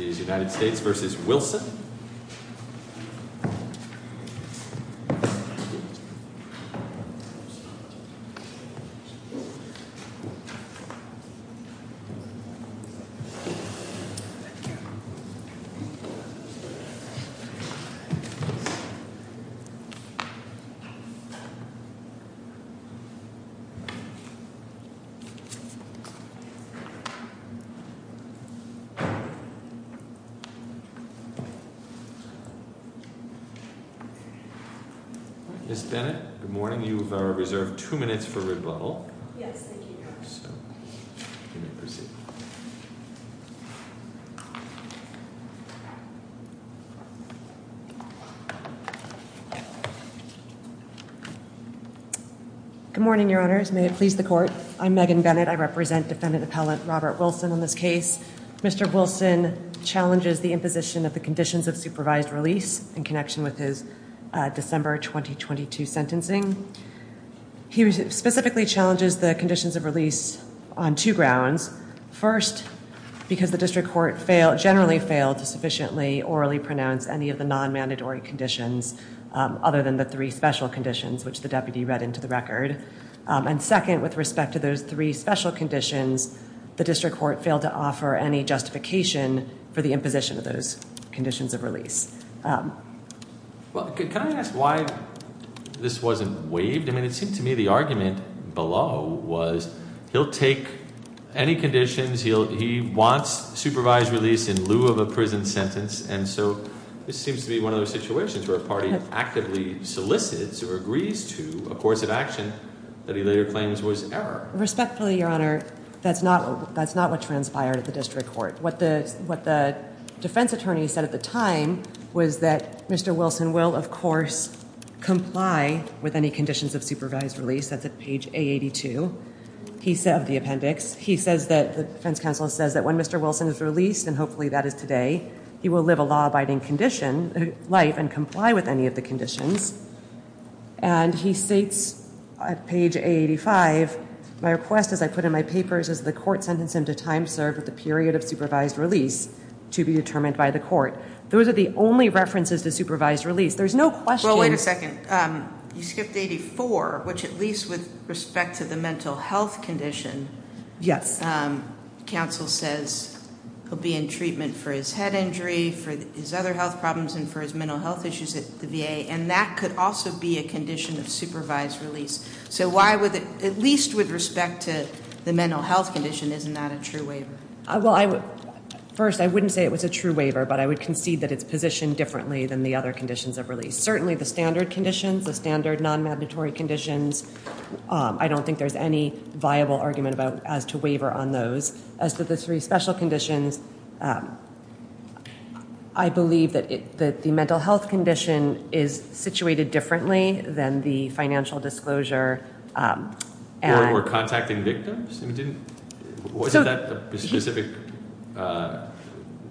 United States v. Wilson Ms. Bennett, good morning. You are reserved two minutes for rebuttal. Yes, thank you, Your Honor. You may proceed. Good morning, Your Honors. May it please the Court? I'm Megan Bennett. I represent Defendant Appellant Robert Wilson on this case. Mr. Wilson challenges the imposition of the conditions of supervised release in connection with his December 2022 sentencing. He specifically challenges the conditions of release on two grounds. First, because the district court generally failed to sufficiently orally pronounce any of the non-mandatory conditions other than the three special conditions, which the deputy read into the record. And second, with respect to those three special conditions, the district court failed to offer any justification for the imposition of those conditions of release. Well, can I ask why this wasn't waived? I mean, it seemed to me the argument below was he'll take any conditions. He wants supervised release in lieu of a prison sentence. And so this seems to be one of those situations where a party actively solicits or agrees to a course of action that he later claims was error. Respectfully, Your Honor, that's not what transpired at the district court. What the defense attorney said at the time was that Mr. Wilson will, of course, comply with any conditions of supervised release. That's at page A82 of the appendix. He says that the defense counsel says that when Mr. Wilson is released, and hopefully that is today, he will live a law-abiding life and comply with any of the conditions. And he states at page A85, my request, as I put in my papers, is that the court sentence him to time served with a period of supervised release to be determined by the court. Those are the only references to supervised release. There's no question. Wait a second. You skipped 84, which at least with respect to the mental health condition- Yes. Counsel says he'll be in treatment for his head injury, for his other health problems, and for his mental health issues at the VA. And that could also be a condition of supervised release. So why would, at least with respect to the mental health condition, isn't that a true waiver? Well, first, I wouldn't say it was a true waiver, but I would concede that it's positioned differently than the other conditions of release. Certainly the standard conditions, the standard non-mandatory conditions, I don't think there's any viable argument as to waiver on those. As to the three special conditions, I believe that the mental health condition is situated differently than the financial disclosure. Or contacting victims? Wasn't that a specific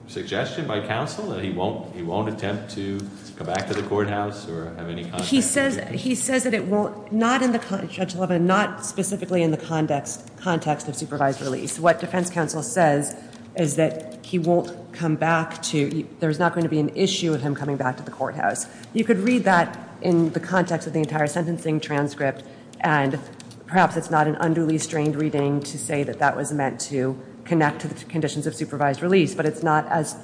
suggestion by counsel, that he won't attempt to come back to the courthouse or have any contact? He says that it won't, not in the context, Judge Levin, not specifically in the context of supervised release. What defense counsel says is that he won't come back to, there's not going to be an issue of him coming back to the courthouse. You could read that in the context of the entire sentencing transcript, and perhaps it's not an unduly strained reading to say that that was meant to connect to the conditions of supervised release, but it's not as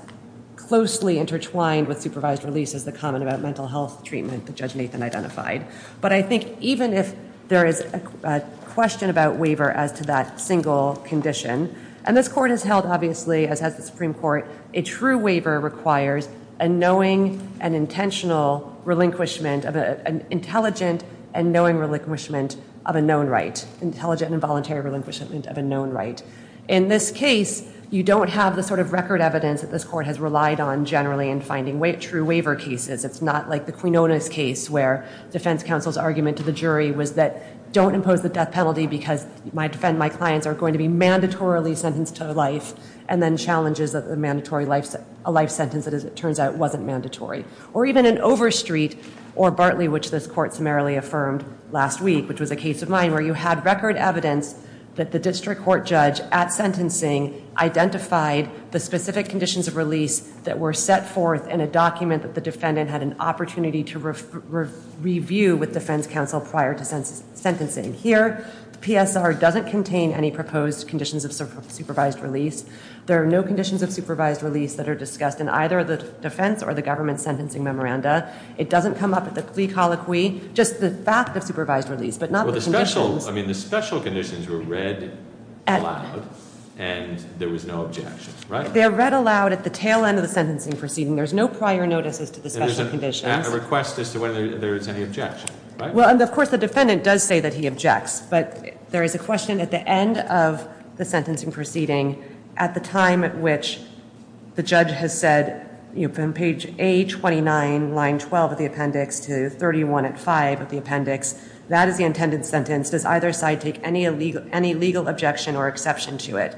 closely intertwined with supervised release as the comment about mental health treatment that Judge Nathan identified. But I think even if there is a question about waiver as to that single condition, and this court has held, obviously, as has the Supreme Court, a true waiver requires a knowing and intentional relinquishment, an intelligent and knowing relinquishment of a known right. Intelligent and voluntary relinquishment of a known right. In this case, you don't have the sort of record evidence that this court has relied on generally in finding true waiver cases. It's not like the Quinones case where defense counsel's argument to the jury was that, don't impose the death penalty because my clients are going to be mandatorily sentenced to life, and then challenges that the mandatory life sentence, as it turns out, wasn't mandatory. Or even in Overstreet or Bartley, which this court summarily affirmed last week, which was a case of mine where you had record evidence that the district court judge at sentencing identified the specific conditions of release that were set forth in a document that the defendant had an opportunity to review with defense counsel prior to sentencing. Here, the PSR doesn't contain any proposed conditions of supervised release. There are no conditions of supervised release that are discussed in either the defense or the government sentencing memoranda. It doesn't come up at the plea colloquy, just the fact of supervised release, but not the conditions. Well, the special conditions were read aloud, and there was no objection, right? They are read aloud at the tail end of the sentencing proceeding. There's no prior notices to the special conditions. A request as to whether there is any objection, right? Well, of course, the defendant does say that he objects, but there is a question at the end of the sentencing proceeding at the time at which the judge has said, from page A29, line 12 of the appendix to 31 at 5 of the appendix, that is the intended sentence. Does either side take any legal objection or exception to it?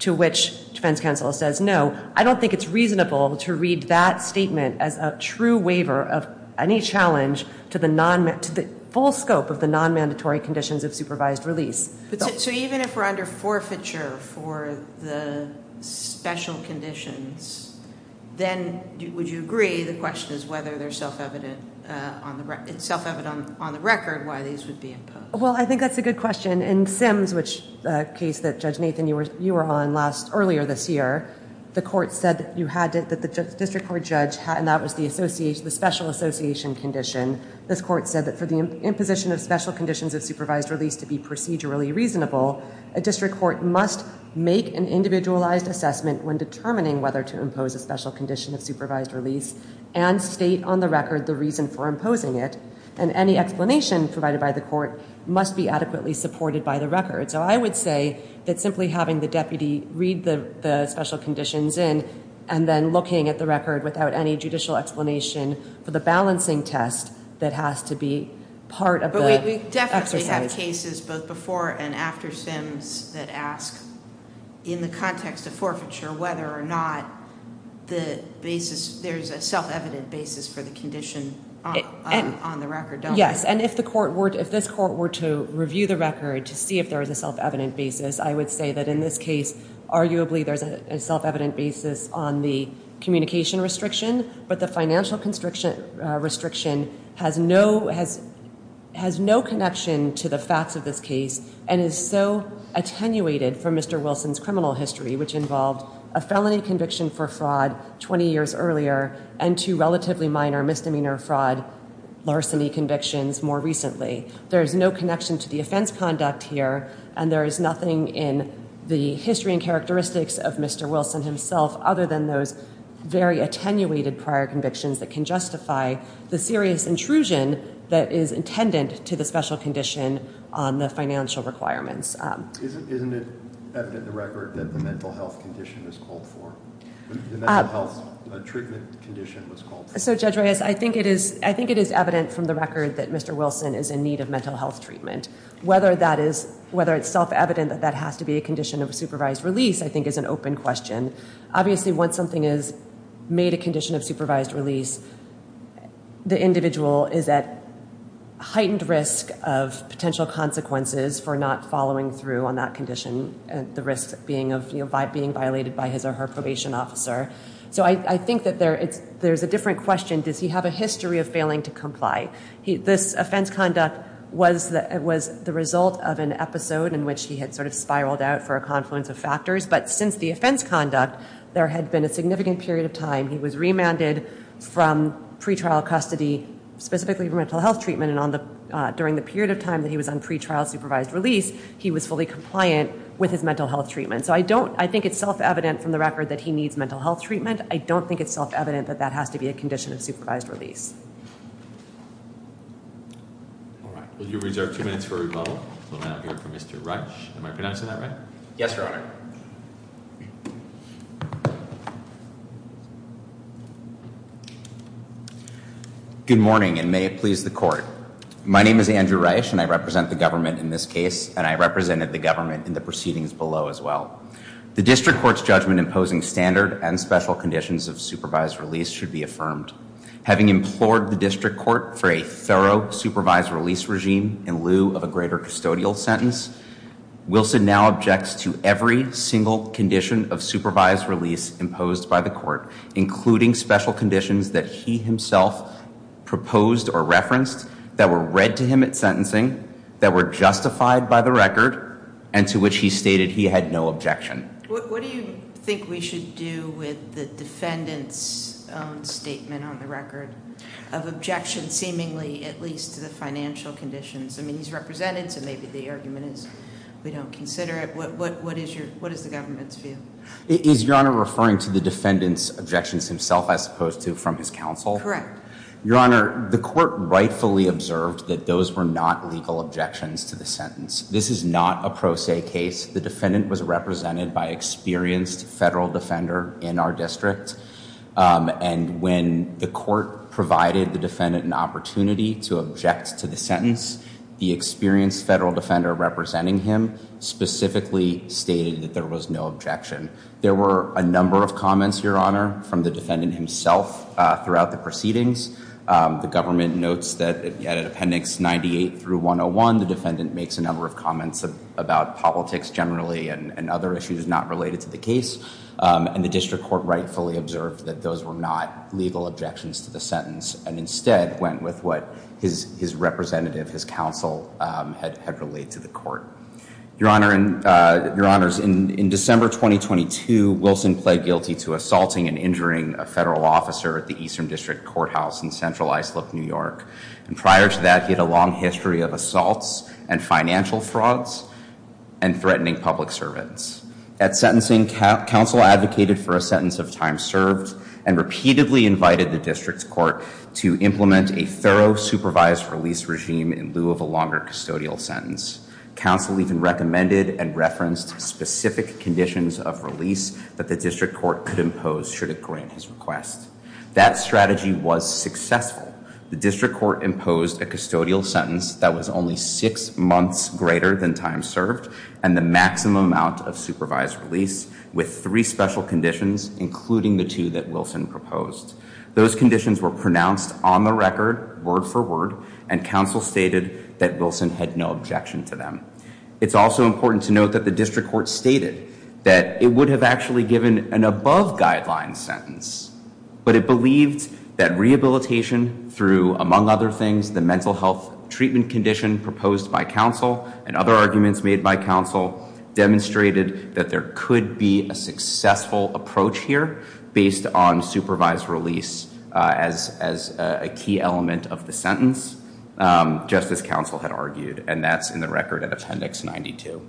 To which defense counsel says no. I don't think it's reasonable to read that statement as a true waiver of any challenge to the full scope of the nonmandatory conditions of supervised release. So even if we're under forfeiture for the special conditions, then would you agree the question is whether it's self-evident on the record why these would be imposed? Well, I think that's a good question. In Sims, which is a case that Judge Nathan, you were on earlier this year, the court said that the district court judge, and that was the special association condition, this court said that for the imposition of special conditions of supervised release to be procedurally reasonable, a district court must make an individualized assessment when determining whether to impose a special condition of supervised release and state on the record the reason for imposing it. And any explanation provided by the court must be adequately supported by the record. So I would say that simply having the deputy read the special conditions in and then looking at the record without any judicial explanation for the balancing test that has to be part of the exercise. But we definitely have cases both before and after Sims that ask in the context of forfeiture whether or not there's a self-evident basis for the condition on the record, don't we? Yes, and if this court were to review the record to see if there was a self-evident basis, I would say that in this case arguably there's a self-evident basis on the communication restriction, but the financial restriction has no connection to the facts of this case and is so attenuated from Mr. Wilson's criminal history which involved a felony conviction for fraud 20 years earlier and two relatively minor misdemeanor fraud larceny convictions more recently. There is no connection to the offense conduct here and there is nothing in the history and characteristics of Mr. Wilson himself other than those very attenuated prior convictions that can justify the serious intrusion that is intended to the special condition on the financial requirements. Isn't it evident in the record that the mental health condition was called for? The mental health treatment condition was called for. So Judge Reyes, I think it is evident from the record that Mr. Wilson is in need of mental health treatment. Whether it's self-evident that that has to be a condition of supervised release I think is an open question. Obviously once something is made a condition of supervised release, the individual is at heightened risk of potential consequences for not following through on that condition and the risk of being violated by his or her probation officer. So I think that there's a different question. Does he have a history of failing to comply? This offense conduct was the result of an episode in which he had sort of spiraled out for a confluence of factors, but since the offense conduct there had been a significant period of time. He was remanded from pretrial custody specifically for mental health treatment and during the period of time that he was on pretrial supervised release, he was fully compliant with his mental health treatment. So I think it's self-evident from the record that he needs mental health treatment. I don't think it's self-evident that that has to be a condition of supervised release. All right. Will you reserve two minutes for rebuttal? We'll now hear from Mr. Rush. Am I pronouncing that right? Yes, Your Honor. Good morning and may it please the court. My name is Andrew Rush and I represent the government in this case and I represented the government in the proceedings below as well. The district court's judgment imposing standard and special conditions of supervised release should be affirmed. Having implored the district court for a thorough supervised release regime in lieu of a greater custodial sentence, Wilson now objects to every single condition of supervised release imposed by the court, including special conditions that he himself proposed or referenced, that were read to him at sentencing, that were justified by the record, and to which he stated he had no objection. What do you think we should do with the defendant's own statement on the record of objection seemingly at least to the financial conditions? I mean, he's represented so maybe the argument is we don't consider it. What is the government's view? Is Your Honor referring to the defendant's objections himself as opposed to from his counsel? Your Honor, the court rightfully observed that those were not legal objections to the sentence. This is not a pro se case. The defendant was represented by experienced federal defender in our district and when the court provided the defendant an opportunity to object to the sentence, the experienced federal defender representing him specifically stated that there was no objection. There were a number of comments, Your Honor, from the defendant himself throughout the proceedings. The government notes that at appendix 98 through 101, the defendant makes a number of comments about politics generally and other issues not related to the case. And the district court rightfully observed that those were not legal objections to the sentence and instead went with what his representative, his counsel, had relayed to the court. Your Honor, in December 2022, Wilson pled guilty to assaulting and injuring a federal officer at the Eastern District Courthouse in Central Islip, New York. And prior to that, he had a long history of assaults and financial frauds and threatening public servants. At sentencing, counsel advocated for a sentence of time served and repeatedly invited the district court to implement a thorough supervised release regime in lieu of a longer custodial sentence. Counsel even recommended and referenced specific conditions of release that the district court could impose should it grant his request. That strategy was successful. The district court imposed a custodial sentence that was only six months greater than time served and the maximum amount of supervised release with three special conditions, including the two that Wilson proposed. Those conditions were pronounced on the record, word for word, and counsel stated that Wilson had no objection to them. It's also important to note that the district court stated that it would have actually given an above guideline sentence, but it believed that rehabilitation through, among other things, the mental health treatment condition proposed by counsel and other arguments made by counsel demonstrated that there could be a successful approach here based on supervised release as a key element of the sentence, just as counsel had argued, and that's in the record at Appendix 92.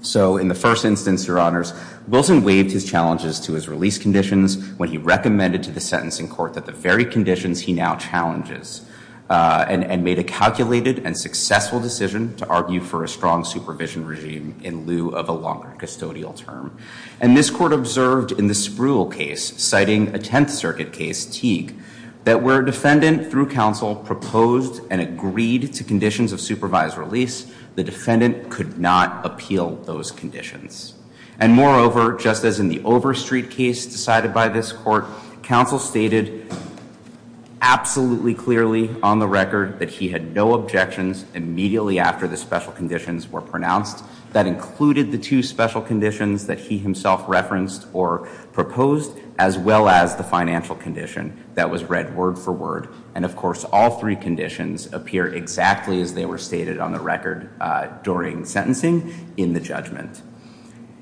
So in the first instance, Your Honors, Wilson waived his challenges to his release conditions when he recommended to the sentencing court that the very conditions he now challenges and made a calculated and successful decision to argue for a strong supervision regime in lieu of a longer custodial term. And this court observed in the Spruill case, citing a Tenth Circuit case, Teague, that where a defendant through counsel proposed and agreed to conditions of supervised release, the defendant could not appeal those conditions. And moreover, just as in the Overstreet case decided by this court, counsel stated absolutely clearly on the record that he had no objections immediately after the special conditions were pronounced. That included the two special conditions that he himself referenced or proposed, as well as the financial condition that was read word for word. And of course, all three conditions appear exactly as they were stated on the record during sentencing in the judgment.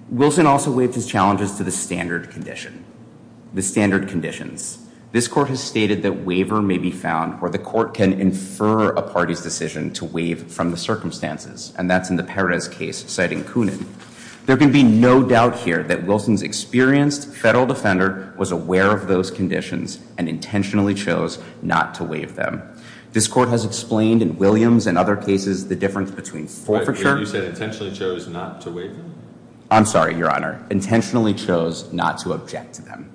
Wilson also waived his challenges to the standard condition, the standard conditions. This court has stated that waiver may be found where the court can infer a party's decision to waive from the circumstances, and that's in the Perez case, citing Kunin. There can be no doubt here that Wilson's experienced federal defender was aware of those conditions and intentionally chose not to waive them. This court has explained in Williams and other cases the difference between forfeiture You said intentionally chose not to waive them? I'm sorry, Your Honor. Intentionally chose not to object to them.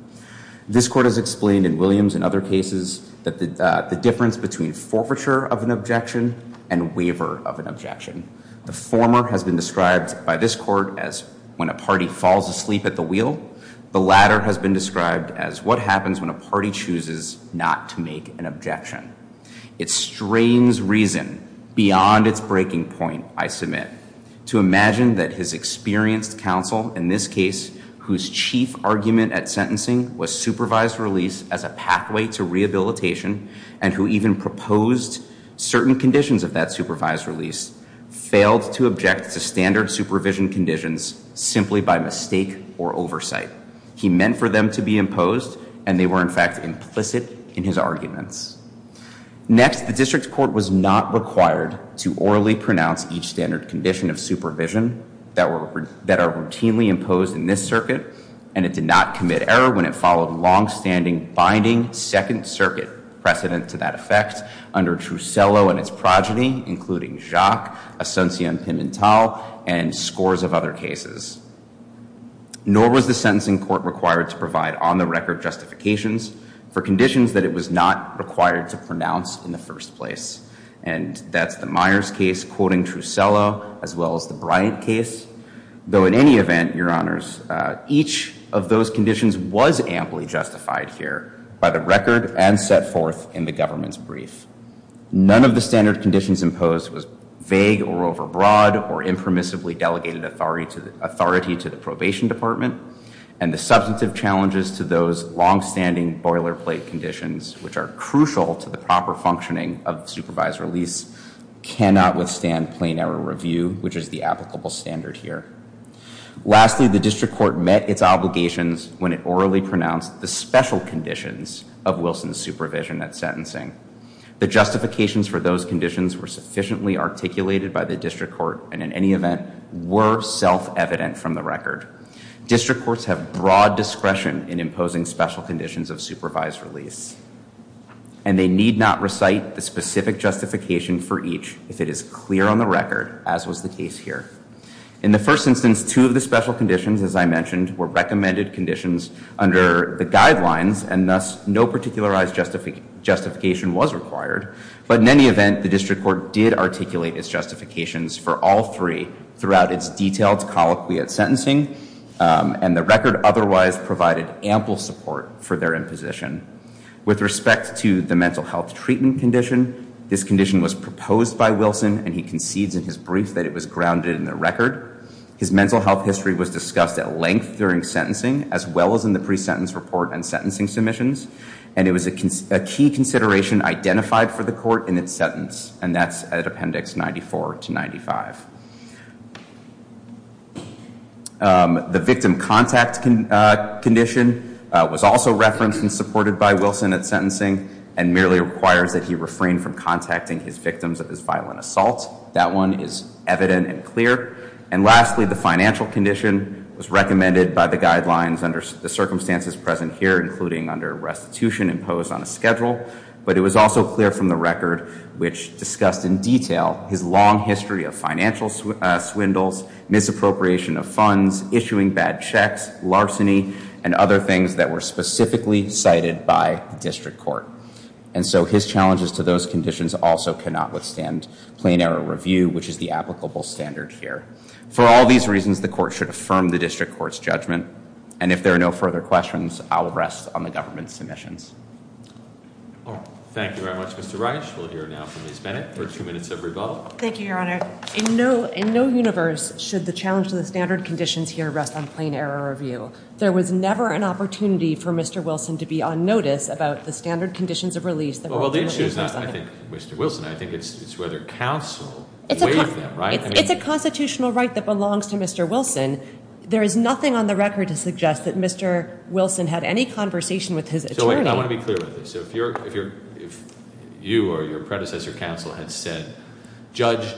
This court has explained in Williams and other cases the difference between forfeiture of an objection and waiver of an objection. The former has been described by this court as when a party falls asleep at the wheel. The latter has been described as what happens when a party chooses not to make an objection. It strains reason beyond its breaking point, I submit, to imagine that his experienced counsel in this case, whose chief argument at sentencing was supervised release as a pathway to rehabilitation and who even proposed certain conditions of that supervised release, failed to object to standard supervision conditions simply by mistake or oversight. He meant for them to be imposed, and they were, in fact, implicit in his arguments. Next, the district court was not required to orally pronounce each standard condition of supervision that are routinely imposed in this circuit, and it did not commit error when it followed longstanding binding Second Circuit precedent to that effect under Trussello and its progeny, including Jacques, Asuncion-Pimentel, and scores of other cases. Nor was the sentencing court required to provide on-the-record justifications for conditions that it was not required to pronounce in the first place, and that's the Myers case, quoting Trussello, as well as the Bryant case, though in any event, Your Honors, each of those conditions was amply justified here by the record and set forth in the government's brief. None of the standard conditions imposed was vague or overbroad or impermissibly delegated authority to the probation department, and the substantive challenges to those longstanding boilerplate conditions, which are crucial to the proper functioning of the supervised release, cannot withstand plain error review, which is the applicable standard here. Lastly, the district court met its obligations when it orally pronounced the special conditions of Wilson's supervision at sentencing. The justifications for those conditions were sufficiently articulated by the district court and in any event, were self-evident from the record. District courts have broad discretion in imposing special conditions of supervised release, and they need not recite the specific justification for each if it is clear on the record, as was the case here. In the first instance, two of the special conditions, as I mentioned, were recommended conditions under the guidelines, and thus, no particularized justification was required, but in any event, the district court did articulate its justifications for all three throughout its detailed colloquy at sentencing, and the record otherwise provided ample support for their imposition. With respect to the mental health treatment condition, this condition was proposed by Wilson, and he concedes in his brief that it was grounded in the record. His mental health history was discussed at length during sentencing, as well as in the pre-sentence report and sentencing submissions, and it was a key consideration identified for the court in its sentence, and that's at Appendix 94 to 95. The victim contact condition was also referenced and supported by Wilson at sentencing, and merely requires that he refrain from contacting his victims of his violent assault. That one is evident and clear. And lastly, the financial condition was recommended by the guidelines under the circumstances present here, including under restitution imposed on a schedule, but it was also clear from the record, which discussed in detail, his long history of financial swindles, misappropriation of funds, issuing bad checks, larceny, and other things that were specifically cited by the district court. And so his challenges to those conditions also cannot withstand plain error review, which is the applicable standard here. For all these reasons, the court should affirm the district court's judgment, and if there are no further questions, I will rest on the government's submissions. Thank you very much, Mr. Reich. We'll hear now from Ms. Bennett for two minutes of rebuttal. Thank you, Your Honor. In no universe should the challenge to the standard conditions here rest on plain error review. There was never an opportunity for Mr. Wilson to be on notice about the standard conditions of release. Well, the issue is not, I think, Mr. Wilson. I think it's whether counsel waived them, right? It's a constitutional right that belongs to Mr. Wilson. There is nothing on the record to suggest that Mr. Wilson had any conversation with his attorney. I want to be clear with this. If you or your predecessor counsel had said, judge,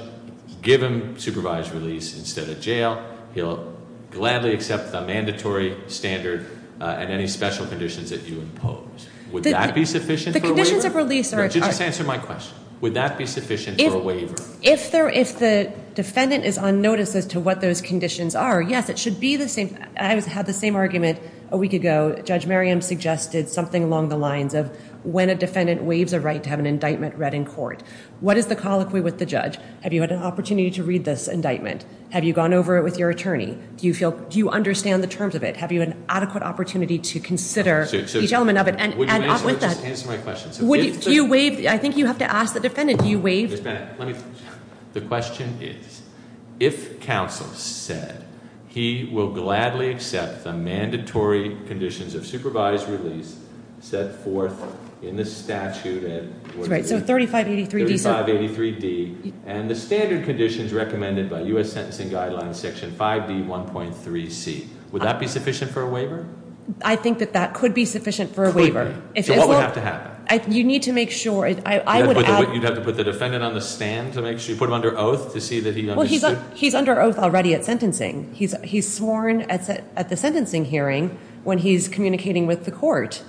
give him supervised release instead of jail, he'll gladly accept the mandatory standard and any special conditions that you impose. Would that be sufficient for a waiver? The conditions of release are. Just answer my question. Would that be sufficient for a waiver? If the defendant is on notice as to what those conditions are, yes, it should be the same. I had the same argument a week ago. Judge Merriam suggested something along the lines of when a defendant waives a right to have an indictment read in court. What is the colloquy with the judge? Have you had an opportunity to read this indictment? Have you gone over it with your attorney? Do you understand the terms of it? Have you had an adequate opportunity to consider each element of it? Would you please just answer my question? Do you waive? I think you have to ask the defendant. Do you waive? Ms. Bennett, let me. The question is, if counsel said he will gladly accept the mandatory conditions of supervised release set forth in the statute. That's right. So 3583D. 3583D. And the standard conditions recommended by U.S. Sentencing Guidelines Section 5D1.3C. Would that be sufficient for a waiver? I think that that could be sufficient for a waiver. So what would have to happen? You need to make sure. You'd have to put the defendant on the stand to make sure? Put him under oath to see that he understood? He's under oath already at sentencing. He's sworn at the sentencing hearing when he's communicating with the court.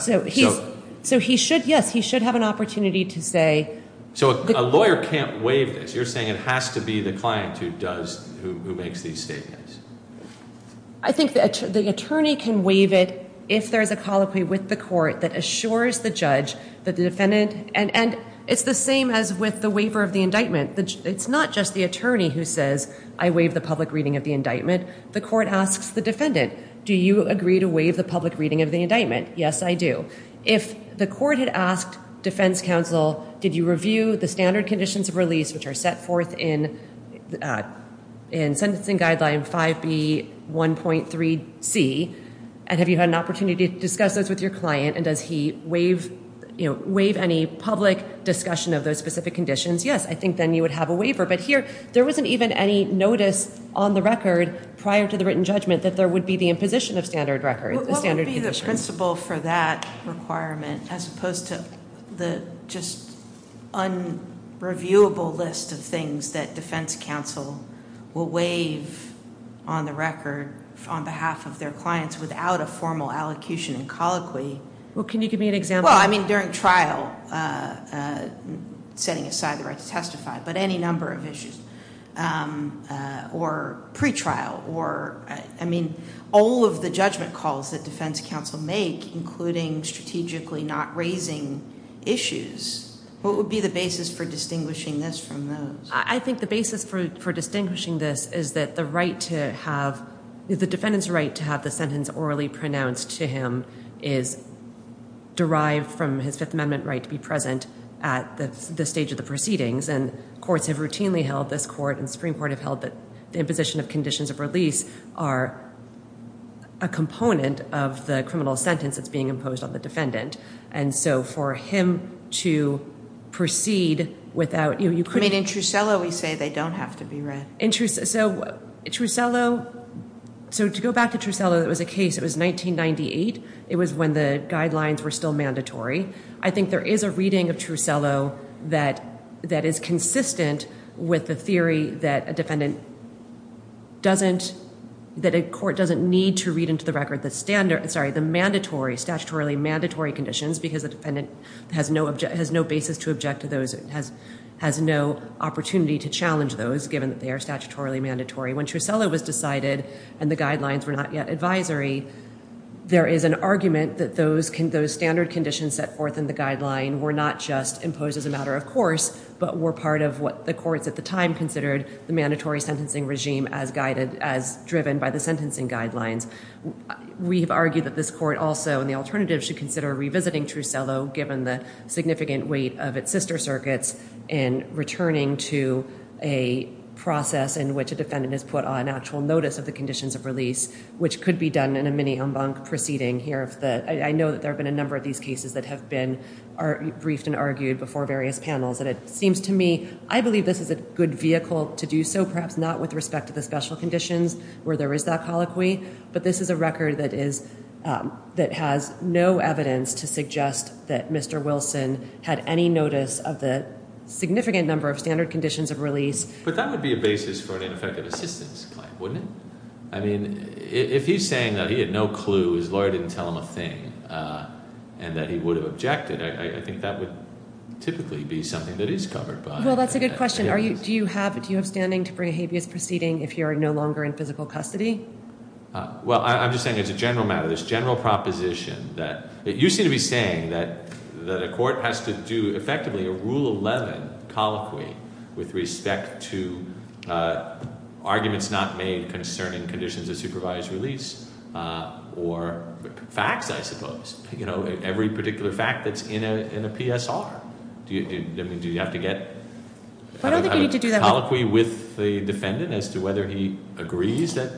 So he should, yes, he should have an opportunity to say. So a lawyer can't waive this. You're saying it has to be the client who does, who makes these statements. I think the attorney can waive it if there's a colloquy with the court that assures the judge that the defendant. And it's the same as with the waiver of the indictment. It's not just the attorney who says, I waive the public reading of the indictment. The court asks the defendant, do you agree to waive the public reading of the indictment? Yes, I do. If the court had asked defense counsel, did you review the standard conditions of release, which are set forth in sentencing guideline 5B1.3C, and have you had an opportunity to discuss those with your client, and does he waive any public discussion of those specific conditions? Yes, I think then you would have a waiver. But here, there wasn't even any notice on the record prior to the written judgment that there would be the imposition of standard conditions. What would be the principle for that requirement, as opposed to the just unreviewable list of things that defense counsel will waive on the record on behalf of their clients without a formal allocution and colloquy? Well, can you give me an example? Well, I mean, during trial, setting aside the right to testify, but any number of issues, or pretrial, or, I mean, all of the judgment calls that defense counsel make, including strategically not raising issues, what would be the basis for distinguishing this from those? I think the basis for distinguishing this is that the right to have, the defendant's right to have the sentence orally pronounced to him is derived from his Fifth Amendment right to be present at this stage of the proceedings, and courts have routinely held, this court and the Supreme Court have held, that the imposition of conditions of release are a component of the criminal sentence that's being imposed on the defendant. And so for him to proceed without, you know, you could... I mean, in Trussello, we say they don't have to be read. In Trussello, so to go back to Trussello, it was a case, it was 1998. It was when the guidelines were still mandatory. I think there is a reading of Trussello that is consistent with the theory that a defendant doesn't, that a court doesn't need to read into the record the standard, sorry, the mandatory, statutorily mandatory conditions because the defendant has no basis to object to those, has no opportunity to challenge those given that they are statutorily mandatory. When Trussello was decided and the guidelines were not yet advisory, there is an argument that those standard conditions set forth in the guideline were not just imposed as a matter of course, but were part of what the courts at the time considered the mandatory sentencing regime as guided, as driven by the sentencing guidelines. We have argued that this court also, in the alternative, should consider revisiting Trussello, given the significant weight of its sister circuits, and returning to a process in which a defendant is put on actual notice of the conditions of release, which could be done in a mini en banc proceeding here. I know that there have been a number of these cases that have been briefed and argued before various panels, and it seems to me, I believe this is a good vehicle to do so, perhaps not with respect to the special conditions where there is that colloquy, but this is a record that has no evidence to suggest that Mr. Wilson had any notice of the significant number of standard conditions of release. But that would be a basis for an ineffective assistance claim, wouldn't it? I mean, if he's saying that he had no clue, his lawyer didn't tell him a thing, and that he would have objected, I think that would typically be something that is covered by that. Well, that's a good question. Do you have standing to bring a habeas proceeding if you are no longer in physical custody? Well, I'm just saying as a general matter, this general proposition that you seem to be saying that a court has to do, effectively, a Rule 11 colloquy with respect to arguments not made concerning conditions of supervised release or facts, I suppose, every particular fact that's in a PSR. Do you have to get a colloquy with the defendant as to whether he agrees that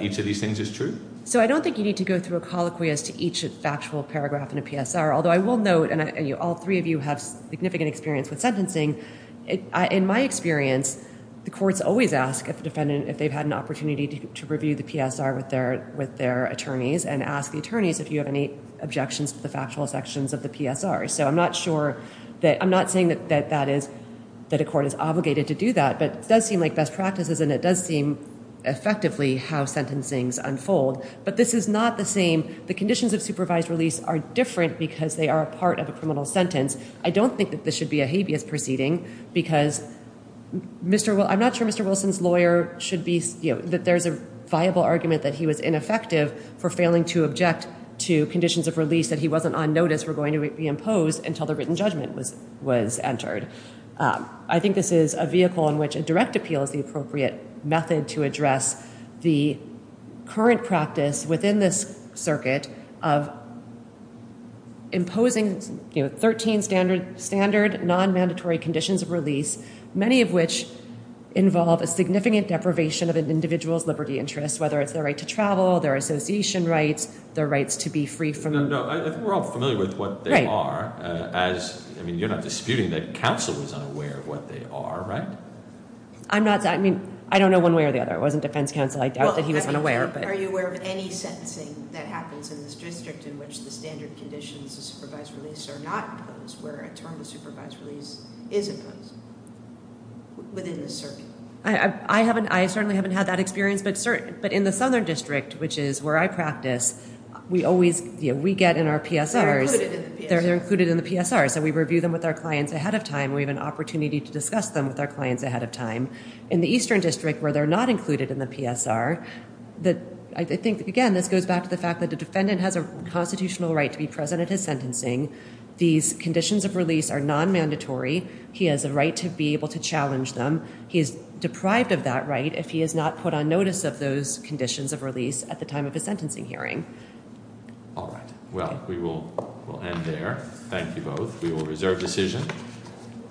each of these things is true? So I don't think you need to go through a colloquy as to each factual paragraph in a PSR, although I will note, and all three of you have significant experience with sentencing, in my experience, the courts always ask the defendant if they've had an opportunity to review the PSR with their attorneys and ask the attorneys if you have any objections to the factual sections of the PSR. So I'm not saying that a court is obligated to do that, but it does seem like best practices, and it does seem, effectively, how sentencings unfold. But this is not the same. The conditions of supervised release are different because they are a part of a criminal sentence. I don't think that this should be a habeas proceeding because I'm not sure Mr. Wilson's lawyer should be, that there's a viable argument that he was ineffective for failing to object to conditions of release that he wasn't on notice were going to be imposed until the written judgment was entered. I think this is a vehicle in which a direct appeal is the appropriate method to address the current practice within this circuit of imposing 13 standard non-mandatory conditions of release, many of which involve a significant deprivation of an individual's liberty interest, whether it's their right to travel, their association rights, their rights to be free from... I think we're all familiar with what they are. You're not disputing that counsel was unaware of what they are, right? I don't know one way or the other. It wasn't defense counsel. I doubt that he was unaware. Are you aware of any sentencing that happens in this district in which the standard conditions of supervised release are not imposed, where a term of supervised release is imposed within this circuit? I certainly haven't had that experience, but in the Southern District, which is where I practice, we get in our PSRs... They're included in the PSR. They're included in the PSR, so we review them with our clients ahead of time. We have an opportunity to discuss them with our clients ahead of time. In the Eastern District, where they're not included in the PSR, I think, again, this goes back to the fact that the defendant has a constitutional right to be present at his sentencing. These conditions of release are non-mandatory. He has a right to be able to challenge them. He is deprived of that right if he is not put on notice of those conditions of release at the time of his sentencing hearing. All right. Well, we will end there. Thank you both. We will reserve decision.